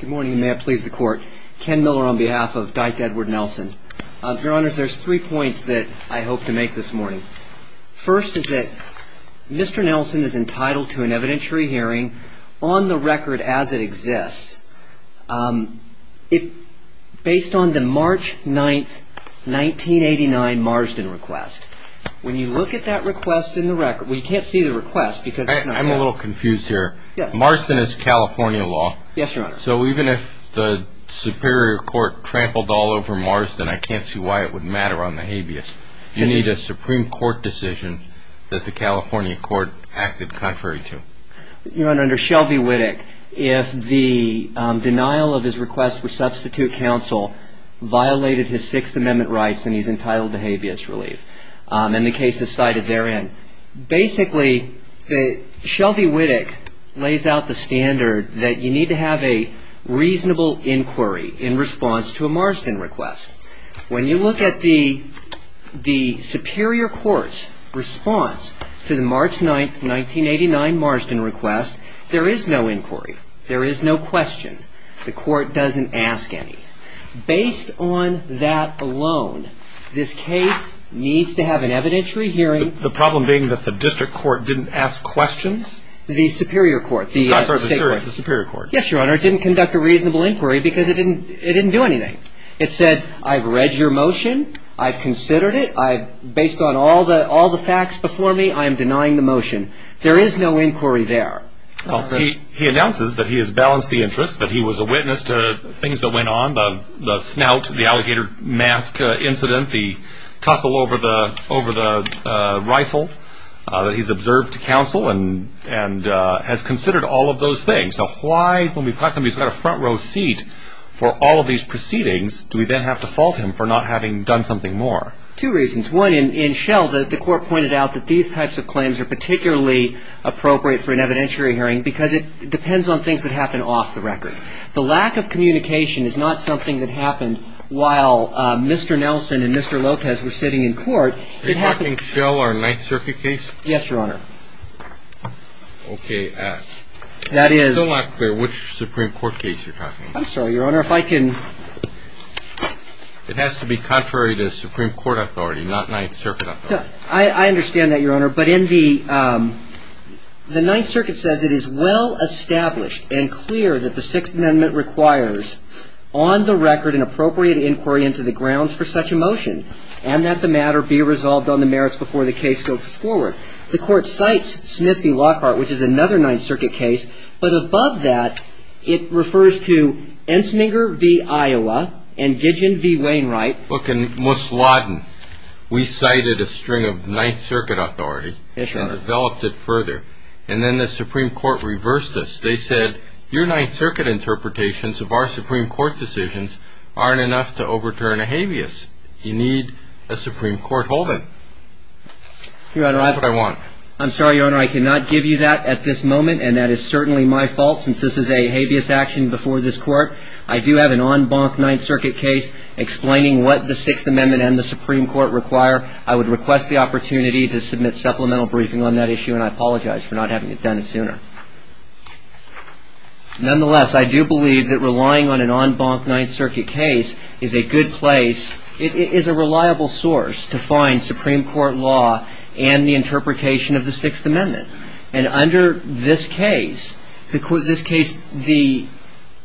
Good morning, and may it please the court. Ken Miller on behalf of Dyke Edward Nelson. Your honors, there's three points that I hope to make this morning. First is that Mr. Nelson is entitled to an evidentiary hearing on the record as it exists, based on the March 9, 1989 Marsden request. When you look at that request in the record, well, you can't see the request because it's not there. I'm a little confused here. Marsden is California law. Yes, your honor. So even if the Superior Court trampled all over Marsden, I can't see why it would matter on the habeas. You need a Supreme Court decision that the California court acted contrary to. Your honor, under Shelby Whittock, if the denial of his request for substitute counsel violated his Sixth Amendment rights, then he's entitled to habeas relief. And the case is cited therein. Basically, Shelby Whittock lays out the standard that you need to have a reasonable inquiry in response to a Marsden request. When you look at the Superior Court's response to the March 9, 1989 Marsden request, there is no inquiry. There is no question. The court doesn't ask any. Based on that alone, this case needs to have an evidentiary hearing. The problem being that the district court didn't ask questions? The Superior Court. I'm sorry, the Superior Court. Yes, your honor. It didn't conduct a reasonable inquiry because it didn't do anything. It said, I've read your motion. I've considered it. Based on all the facts before me, I am denying the motion. There is no inquiry there. He announces that he has balanced the interest, that he was a witness to things that went on, the snout, the alligator mask incident, the tussle over the rifle, that he's observed to counsel and has considered all of those things. Now, why, when we've got somebody who's got a front row seat for all of these proceedings, do we then have to fault him for not having done something more? Two reasons. One, in Shell, the court pointed out that these types of claims are particularly appropriate for an evidentiary hearing because it depends on things that happen off the record. The lack of communication is not something that happened while Mr. Nelson and Mr. Lopez were sitting in court. Are you talking Shell or Ninth Circuit case? Yes, your honor. Okay. That is. I'm still not clear which Supreme Court case you're talking about. I'm sorry, your honor. If I can. It has to be contrary to Supreme Court authority, not Ninth Circuit authority. I understand that, your honor. But in the Ninth Circuit says it is well established and clear that the Sixth Amendment requires on the record an appropriate inquiry into the grounds for such a motion and that the matter be resolved on the merits before the case goes forward. The court cites Smith v. Lockhart, which is another Ninth Circuit case, but above that it refers to Ensminger v. Iowa and Gigeon v. Wainwright. Look, in Musladin, we cited a string of Ninth Circuit authority. Yes, your honor. And developed it further. And then the Supreme Court reversed this. They said your Ninth Circuit interpretations of our Supreme Court decisions aren't enough to overturn a habeas. You need a Supreme Court holding. Your honor. That's what I want. I'm sorry, your honor. I cannot give you that at this moment. And that is certainly my fault since this is a habeas action before this court. I do have an en banc Ninth Circuit case explaining what the Sixth Amendment and the Supreme Court require. I would request the opportunity to submit supplemental briefing on that issue, and I apologize for not having it done sooner. Nonetheless, I do believe that relying on an en banc Ninth Circuit case is a good place. It is a reliable source to find Supreme Court law and the interpretation of the Sixth Amendment. And under this case, we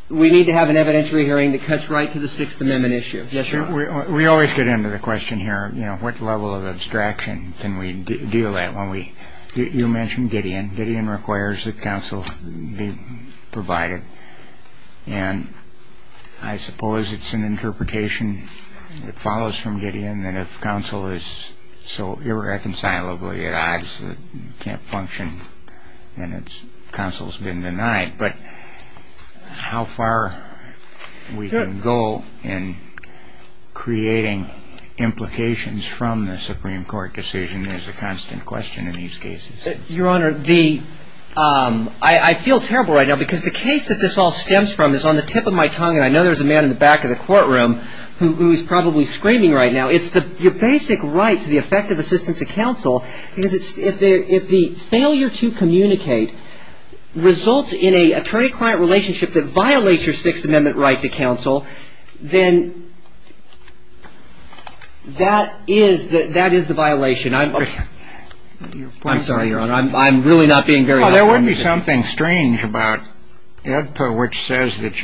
need to have an evidentiary hearing that cuts right to the Sixth Amendment issue. Yes, your honor. We always get into the question here, you know, what level of abstraction can we deal with. You mentioned Gideon. Gideon requires that counsel be provided. And then if counsel is so irreconcilably at odds that it can't function, then counsel has been denied. But how far we can go in creating implications from the Supreme Court decision is a constant question in these cases. Your honor, I feel terrible right now because the case that this all stems from is on the tip of my tongue. I know there's a man in the back of the courtroom who is probably screaming right now. It's your basic right to the effective assistance of counsel. Because if the failure to communicate results in an attorney-client relationship that violates your Sixth Amendment right to counsel, then that is the violation. I'm sorry, your honor. I'm really not being very helpful. There may be something strange about AEDPA which says that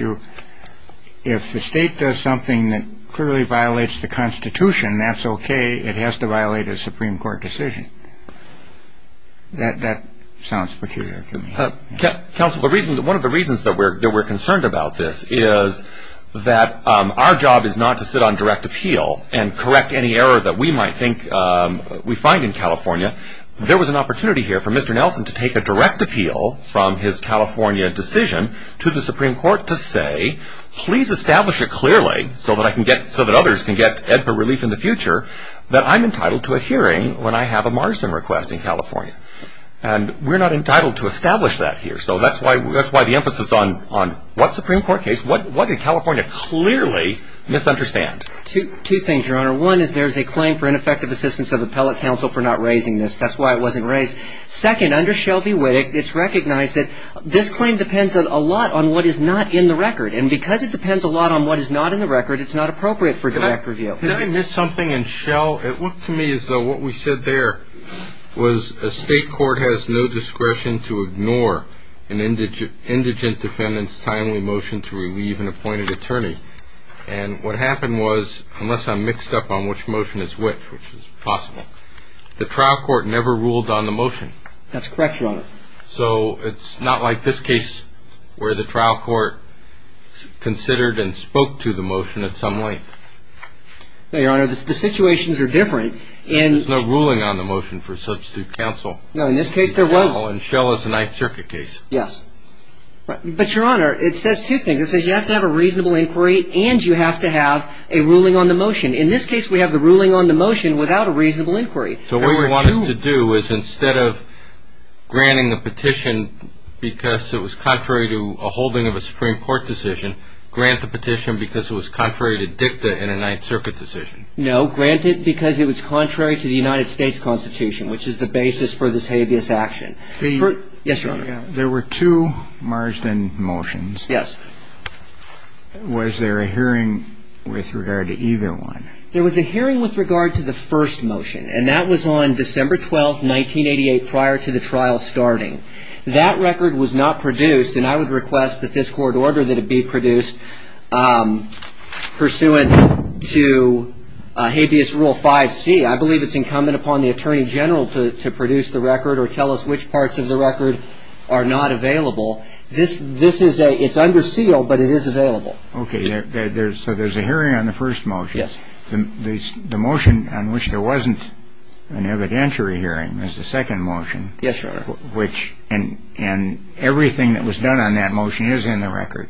if the state does something that clearly violates the Constitution, that's okay. It has to violate a Supreme Court decision. That sounds peculiar to me. Counsel, one of the reasons that we're concerned about this is that our job is not to sit on direct appeal and correct any error that we might think we find in California. There was an opportunity here for Mr. Nelson to take a direct appeal from his California decision to the Supreme Court to say, please establish it clearly so that others can get AEDPA relief in the future, that I'm entitled to a hearing when I have a marginal request in California. And we're not entitled to establish that here. So that's why the emphasis on what Supreme Court case, what did California clearly misunderstand? Two things, your honor. One is there's a claim for ineffective assistance of appellate counsel for not raising this. That's why it wasn't raised. Second, under Shelby Whittock, it's recognized that this claim depends a lot on what is not in the record. And because it depends a lot on what is not in the record, it's not appropriate for direct review. Did I miss something in Shell? It looked to me as though what we said there was a state court has no discretion to ignore an indigent defendant's timely motion to relieve an appointed attorney. And what happened was, unless I'm mixed up on which motion is which, which is possible, the trial court never ruled on the motion. That's correct, your honor. So it's not like this case where the trial court considered and spoke to the motion at some length. No, your honor, the situations are different. There's no ruling on the motion for substitute counsel. No, in this case there was. And Shell is a Ninth Circuit case. Yes. But, your honor, it says two things. It says you have to have a reasonable inquiry and you have to have a ruling on the motion. In this case, we have the ruling on the motion without a reasonable inquiry. So what you want us to do is instead of granting the petition because it was contrary to a holding of a Supreme Court decision, grant the petition because it was contrary to dicta in a Ninth Circuit decision. No, grant it because it was contrary to the United States Constitution, which is the basis for this habeas action. Yes, your honor. There were two Marsden motions. Yes. Was there a hearing with regard to either one? There was a hearing with regard to the first motion, and that was on December 12th, 1988, prior to the trial starting. That record was not produced, and I would request that this court order that it be produced pursuant to habeas rule 5C. I believe it's incumbent upon the Attorney General to produce the record or tell us which parts of the record are not available. This is a – it's under seal, but it is available. Okay. So there's a hearing on the first motion. Yes. The motion on which there wasn't an evidentiary hearing is the second motion. Yes, your honor. Which – and everything that was done on that motion is in the record.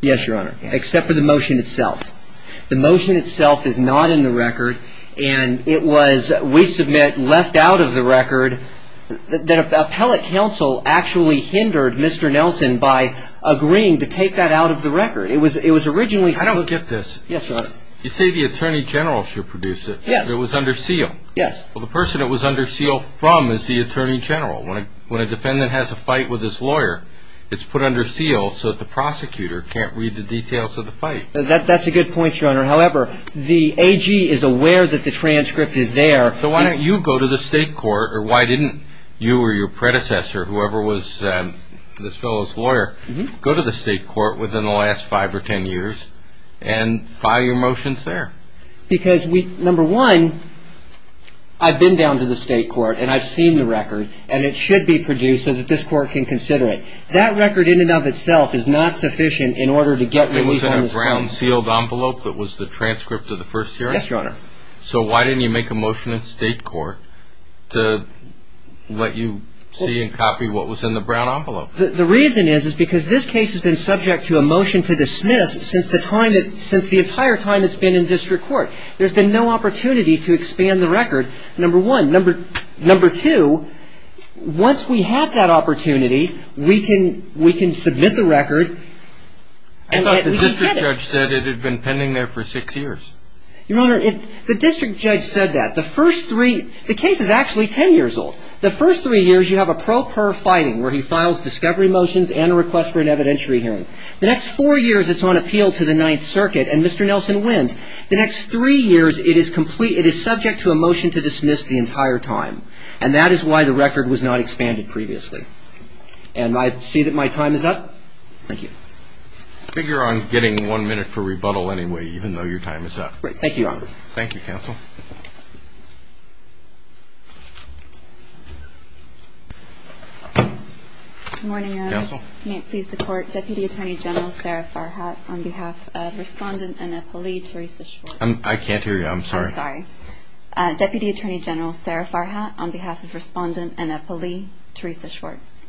Yes, your honor, except for the motion itself. The motion itself is not in the record, and it was, we submit, left out of the record. That appellate counsel actually hindered Mr. Nelson by agreeing to take that out of the record. It was originally – I don't get this. Yes, your honor. You say the Attorney General should produce it. Yes. It was under seal. Yes. Well, the person it was under seal from is the Attorney General. When a defendant has a fight with his lawyer, it's put under seal so that the prosecutor can't read the details of the fight. That's a good point, your honor. However, the AG is aware that the transcript is there. So why don't you go to the state court, or why didn't you or your predecessor, whoever was this fellow's lawyer, go to the state court within the last five or ten years and file your motions there? Because we – number one, I've been down to the state court, and I've seen the record, and it should be produced so that this court can consider it. That record in and of itself is not sufficient in order to get what we found. It was in a brown sealed envelope that was the transcript of the first hearing? Yes, your honor. So why didn't you make a motion in state court to let you see and copy what was in the brown envelope? The reason is because this case has been subject to a motion to dismiss since the entire time it's been in district court. There's been no opportunity to expand the record, number one. Number two, once we have that opportunity, we can submit the record. I thought the district judge said it had been pending there for six years. Your honor, the district judge said that. The first three – the case is actually ten years old. The first three years you have a pro per fighting where he files discovery motions and a request for an evidentiary hearing. The next four years it's on appeal to the Ninth Circuit, and Mr. Nelson wins. The next three years it is complete – it is subject to a motion to dismiss the entire time, and that is why the record was not expanded previously. And I see that my time is up. Thank you. Figure on getting one minute for rebuttal anyway, even though your time is up. Thank you, your honor. Thank you, counsel. Good morning, your honor. Counsel. May it please the court. Deputy Attorney General Sara Farhat on behalf of Respondent Annapoli Teresa Schwartz. I can't hear you. I'm sorry. I'm sorry. Deputy Attorney General Sara Farhat on behalf of Respondent Annapoli Teresa Schwartz.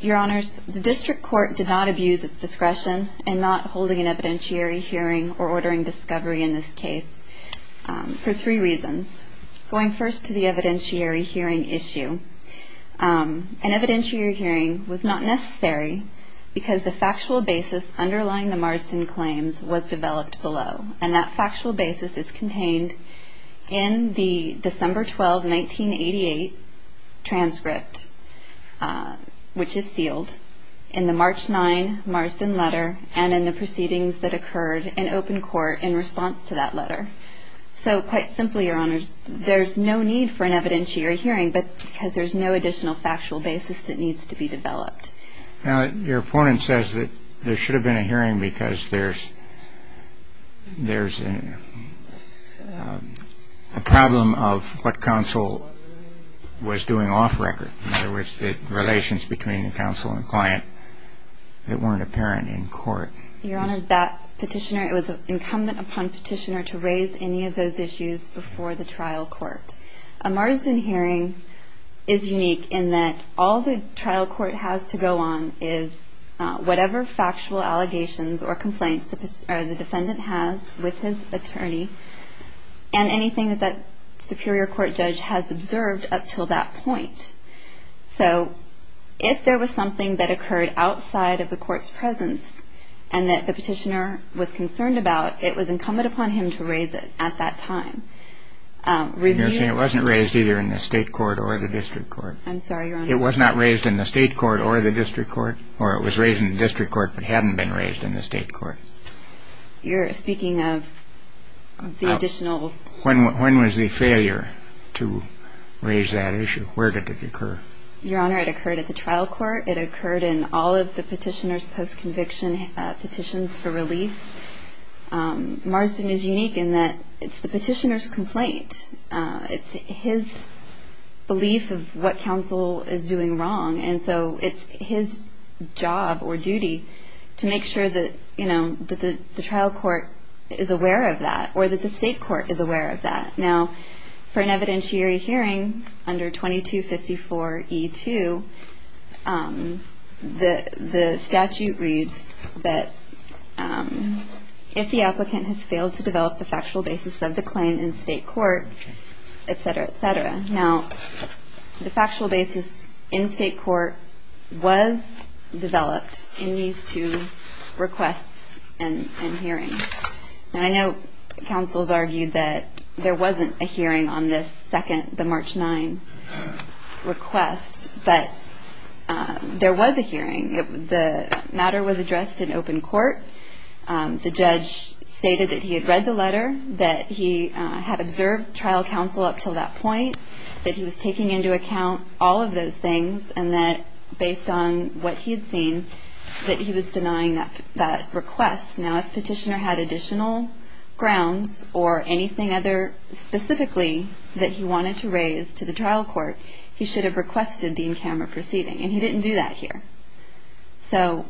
Your honors, the district court did not abuse its discretion in not holding an evidentiary hearing or ordering discovery in this case for three reasons. Going first to the evidentiary hearing issue. An evidentiary hearing was not necessary because the factual basis underlying the Marsden claims was developed below, and that factual basis is contained in the December 12, 1988 transcript, which is sealed, in the March 9 Marsden letter and in the proceedings that occurred in open court in response to that letter. So quite simply, your honors, there's no need for an evidentiary hearing because there's no additional factual basis that needs to be developed. Now, your opponent says that there should have been a hearing because there's a problem of what counsel was doing off record. In other words, the relations between counsel and client that weren't apparent in court. Your honor, that petitioner, it was incumbent upon petitioner to raise any of those issues before the trial court. A Marsden hearing is unique in that all the trial court has to go on is whatever factual allegations or complaints the defendant has with his attorney and anything that that superior court judge has observed up until that point. So if there was something that occurred outside of the court's presence and that the petitioner was concerned about, it was incumbent upon him to raise it at that time. And you're saying it wasn't raised either in the state court or the district court? I'm sorry, your honor. It was not raised in the state court or the district court? Or it was raised in the district court but hadn't been raised in the state court? You're speaking of the additional... When was the failure to raise that issue? Where did it occur? Your honor, it occurred at the trial court. It occurred in all of the petitioner's post-conviction petitions for relief. Marsden is unique in that it's the petitioner's complaint. It's his belief of what counsel is doing wrong, and so it's his job or duty to make sure that the trial court is aware of that or that the state court is aware of that. Now, for an evidentiary hearing under 2254E2, the statute reads that if the applicant has failed to develop the factual basis of the claim in state court, et cetera, et cetera. Now, the factual basis in state court was developed in these two requests and hearings. And I know counsel has argued that there wasn't a hearing on this second, the March 9 request, but there was a hearing. The matter was addressed in open court. The judge stated that he had read the letter, that he had observed trial counsel up until that point, that he was taking into account all of those things, and that based on what he had seen, that he was denying that request. Now, if petitioner had additional grounds or anything other specifically that he wanted to raise to the trial court, he should have requested the in-camera proceeding, and he didn't do that here. So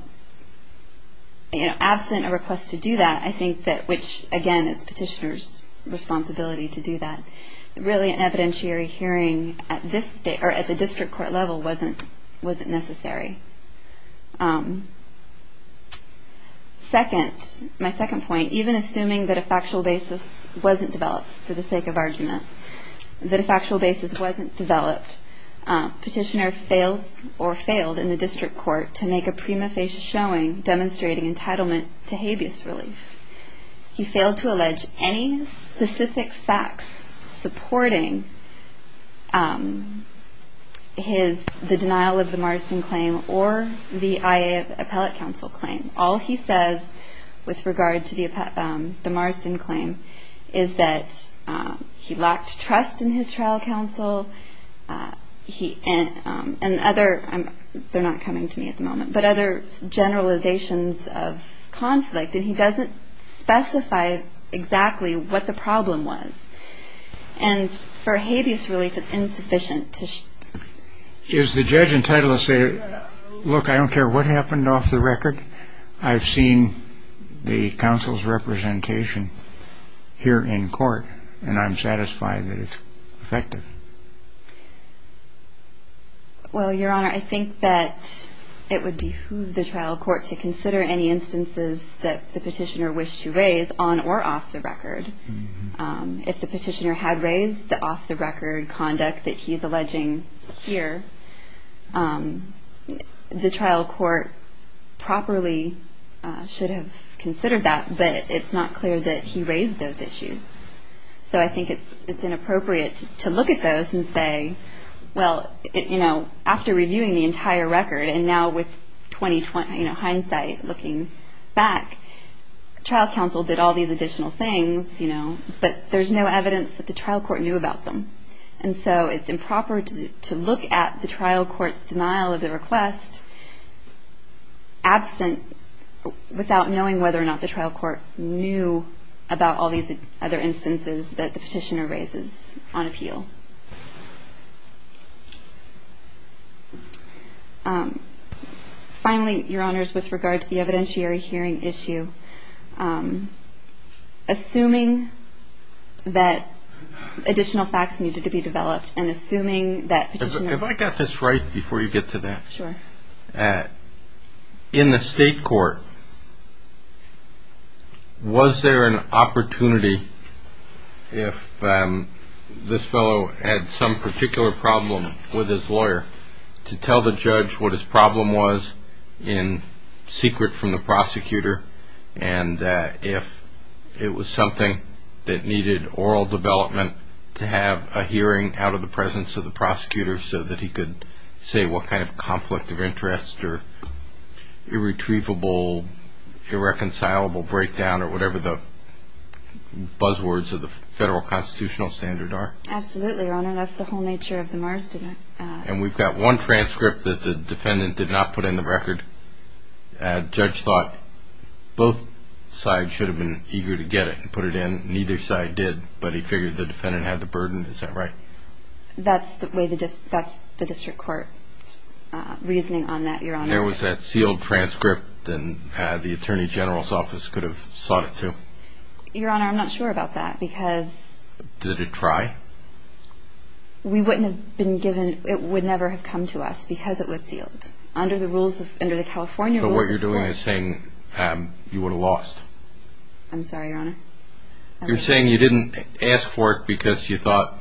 absent a request to do that, I think that which, again, it's petitioner's responsibility to do that, really an evidentiary hearing at the district court level wasn't necessary. Second, my second point, even assuming that a factual basis wasn't developed for the sake of argument, that a factual basis wasn't developed, petitioner fails or failed in the district court to make a prima facie showing, demonstrating entitlement to habeas relief. He failed to allege any specific facts supporting the denial of the Marsden claim or the IA appellate counsel claim. All he says with regard to the Marsden claim is that he lacked trust in his trial counsel, and other, they're not coming to me at the moment, but other generalizations of conflict, and he doesn't specify exactly what the problem was. And for habeas relief, it's insufficient to show. Is the judge entitled to say, look, I don't care what happened off the record, I've seen the counsel's representation here in court, and I'm satisfied that it's effective? Well, Your Honor, I think that it would behoove the trial court to consider any instances that the petitioner wished to raise on or off the record. If the petitioner had raised the off-the-record conduct that he's alleging here, the trial court properly should have considered that, but it's not clear that he raised those issues. So I think it's inappropriate to look at those and say, well, you know, after reviewing the entire record, and now with hindsight looking back, trial counsel did all these additional things, you know, but there's no evidence that the trial court knew about them. And so it's improper to look at the trial court's denial of the request absent, without knowing whether or not the trial court knew about all these other instances that the petitioner raises on appeal. Finally, Your Honors, with regard to the evidentiary hearing issue, assuming that additional facts needed to be developed and assuming that petitioner... Have I got this right before you get to that? Sure. In the state court, was there an opportunity, if this fellow had some particular problem with his lawyer, to tell the judge what his problem was in secret from the prosecutor, and if it was something that needed oral development to have a hearing out of the presence of the prosecutor so that he could say what kind of conflict of interest or irretrievable, irreconcilable breakdown or whatever the buzzwords of the federal constitutional standard are? Absolutely, Your Honor. That's the whole nature of the Marsden. And we've got one transcript that the defendant did not put in the record. The judge thought both sides should have been eager to get it and put it in. Neither side did, but he figured the defendant had the burden. Is that right? That's the way the district court's reasoning on that, Your Honor. There was that sealed transcript, and the attorney general's office could have sought it, too. Your Honor, I'm not sure about that because... Did it try? We wouldn't have been given, it would never have come to us because it was sealed. Under the rules of, under the California rules... So what you're doing is saying you would have lost. I'm sorry, Your Honor. You're saying you didn't ask for it because you thought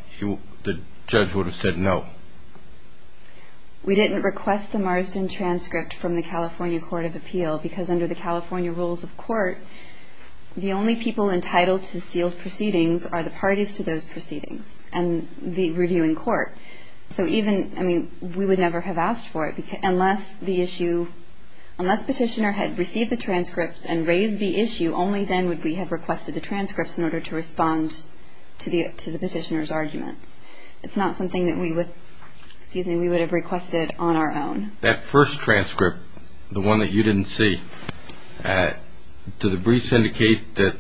the judge would have said no. We didn't request the Marsden transcript from the California Court of Appeal because under the California rules of court, the only people entitled to sealed proceedings are the parties to those proceedings and the reviewing court. So even, I mean, we would never have asked for it unless the issue, only then would we have requested the transcripts in order to respond to the petitioner's arguments. It's not something that we would, excuse me, we would have requested on our own. That first transcript, the one that you didn't see, did the briefs indicate that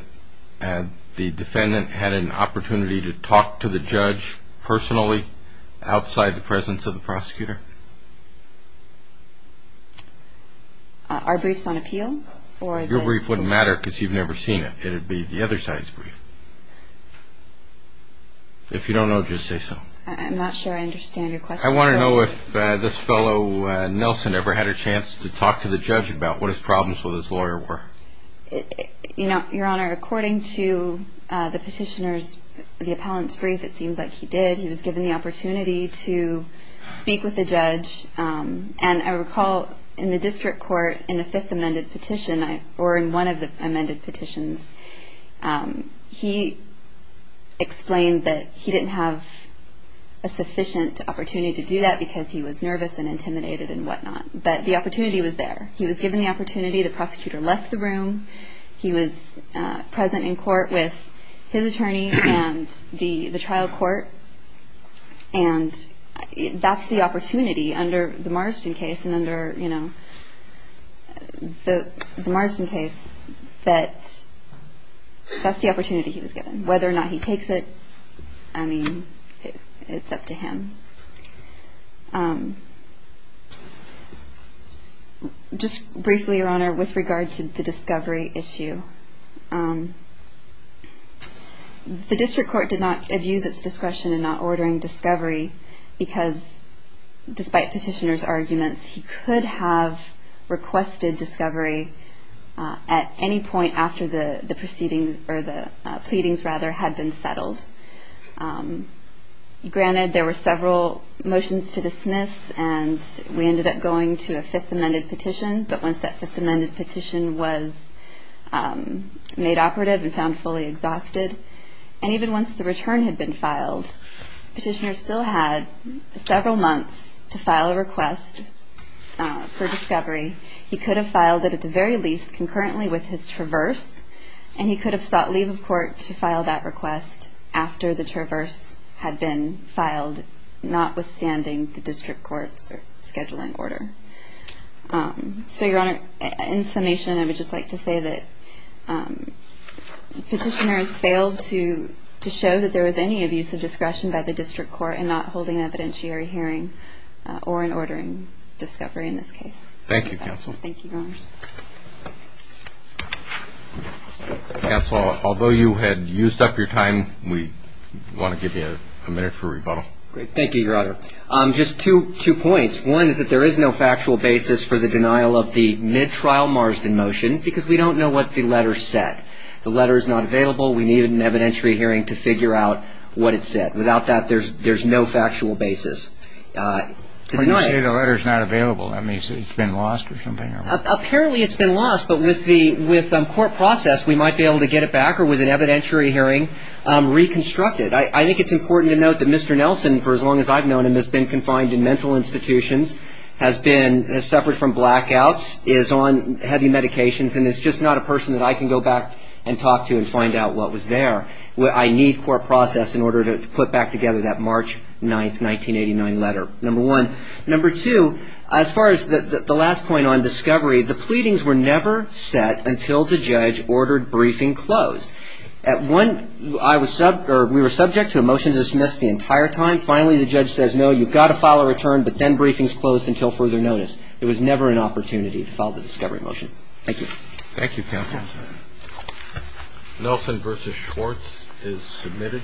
the defendant had an opportunity to talk to the judge personally outside the presence of the prosecutor? Our briefs on appeal? Your brief wouldn't matter because you've never seen it. It would be the other side's brief. If you don't know, just say so. I'm not sure I understand your question. I want to know if this fellow, Nelson, ever had a chance to talk to the judge about what his problems with his lawyer were. You know, Your Honor, according to the petitioner's, the appellant's brief, it seems like he did. He was given the opportunity to speak with the judge. And I recall in the district court in the fifth amended petition, or in one of the amended petitions, he explained that he didn't have a sufficient opportunity to do that because he was nervous and intimidated and whatnot. But the opportunity was there. He was given the opportunity. The prosecutor left the room. He was present in court with his attorney and the trial court. And that's the opportunity under the Marsden case and under, you know, the Marsden case that that's the opportunity he was given. Whether or not he takes it, I mean, it's up to him. Just briefly, Your Honor, with regard to the discovery issue, the district court did not abuse its discretion in not ordering discovery because despite petitioner's arguments, he could have requested discovery at any point after the proceedings or the pleadings rather had been settled. Granted, there were several motions to dismiss, and we ended up going to a fifth amended petition. But once that fifth amended petition was made operative and found fully exhausted, and even once the return had been filed, petitioner still had several months to file a request for discovery. He could have filed it at the very least concurrently with his traverse, and he could have sought leave of court to file that request after the traverse had been filed, notwithstanding the district court's scheduling order. So, Your Honor, in summation, I would just like to say that petitioners failed to show that there was any abuse of discretion by the district court in not holding an evidentiary hearing or in ordering discovery in this case. Thank you, Counsel. Thank you, Your Honor. Counsel, although you had used up your time, we want to give you a minute for rebuttal. Great. Thank you, Your Honor. Just two points. One is that there is no factual basis for the denial of the mid-trial Marsden motion because we don't know what the letter said. The letter is not available. We needed an evidentiary hearing to figure out what it said. Without that, there's no factual basis. When you say the letter is not available, that means it's been lost or something? Apparently it's been lost, but with court process, we might be able to get it back or with an evidentiary hearing reconstruct it. I think it's important to note that Mr. Nelson, for as long as I've known him, has been confined in mental institutions, has suffered from blackouts, is on heavy medications, and is just not a person that I can go back and talk to and find out what was there. I need court process in order to put back together that March 9, 1989 letter, number one. Number two, as far as the last point on discovery, the pleadings were never set until the judge ordered briefing closed. We were subject to a motion to dismiss the entire time. Finally, the judge says, no, you've got to file a return, but then briefing's closed until further notice. It was never an opportunity to file the discovery motion. Thank you. Thank you, counsel. Nelson v. Schwartz is submitted.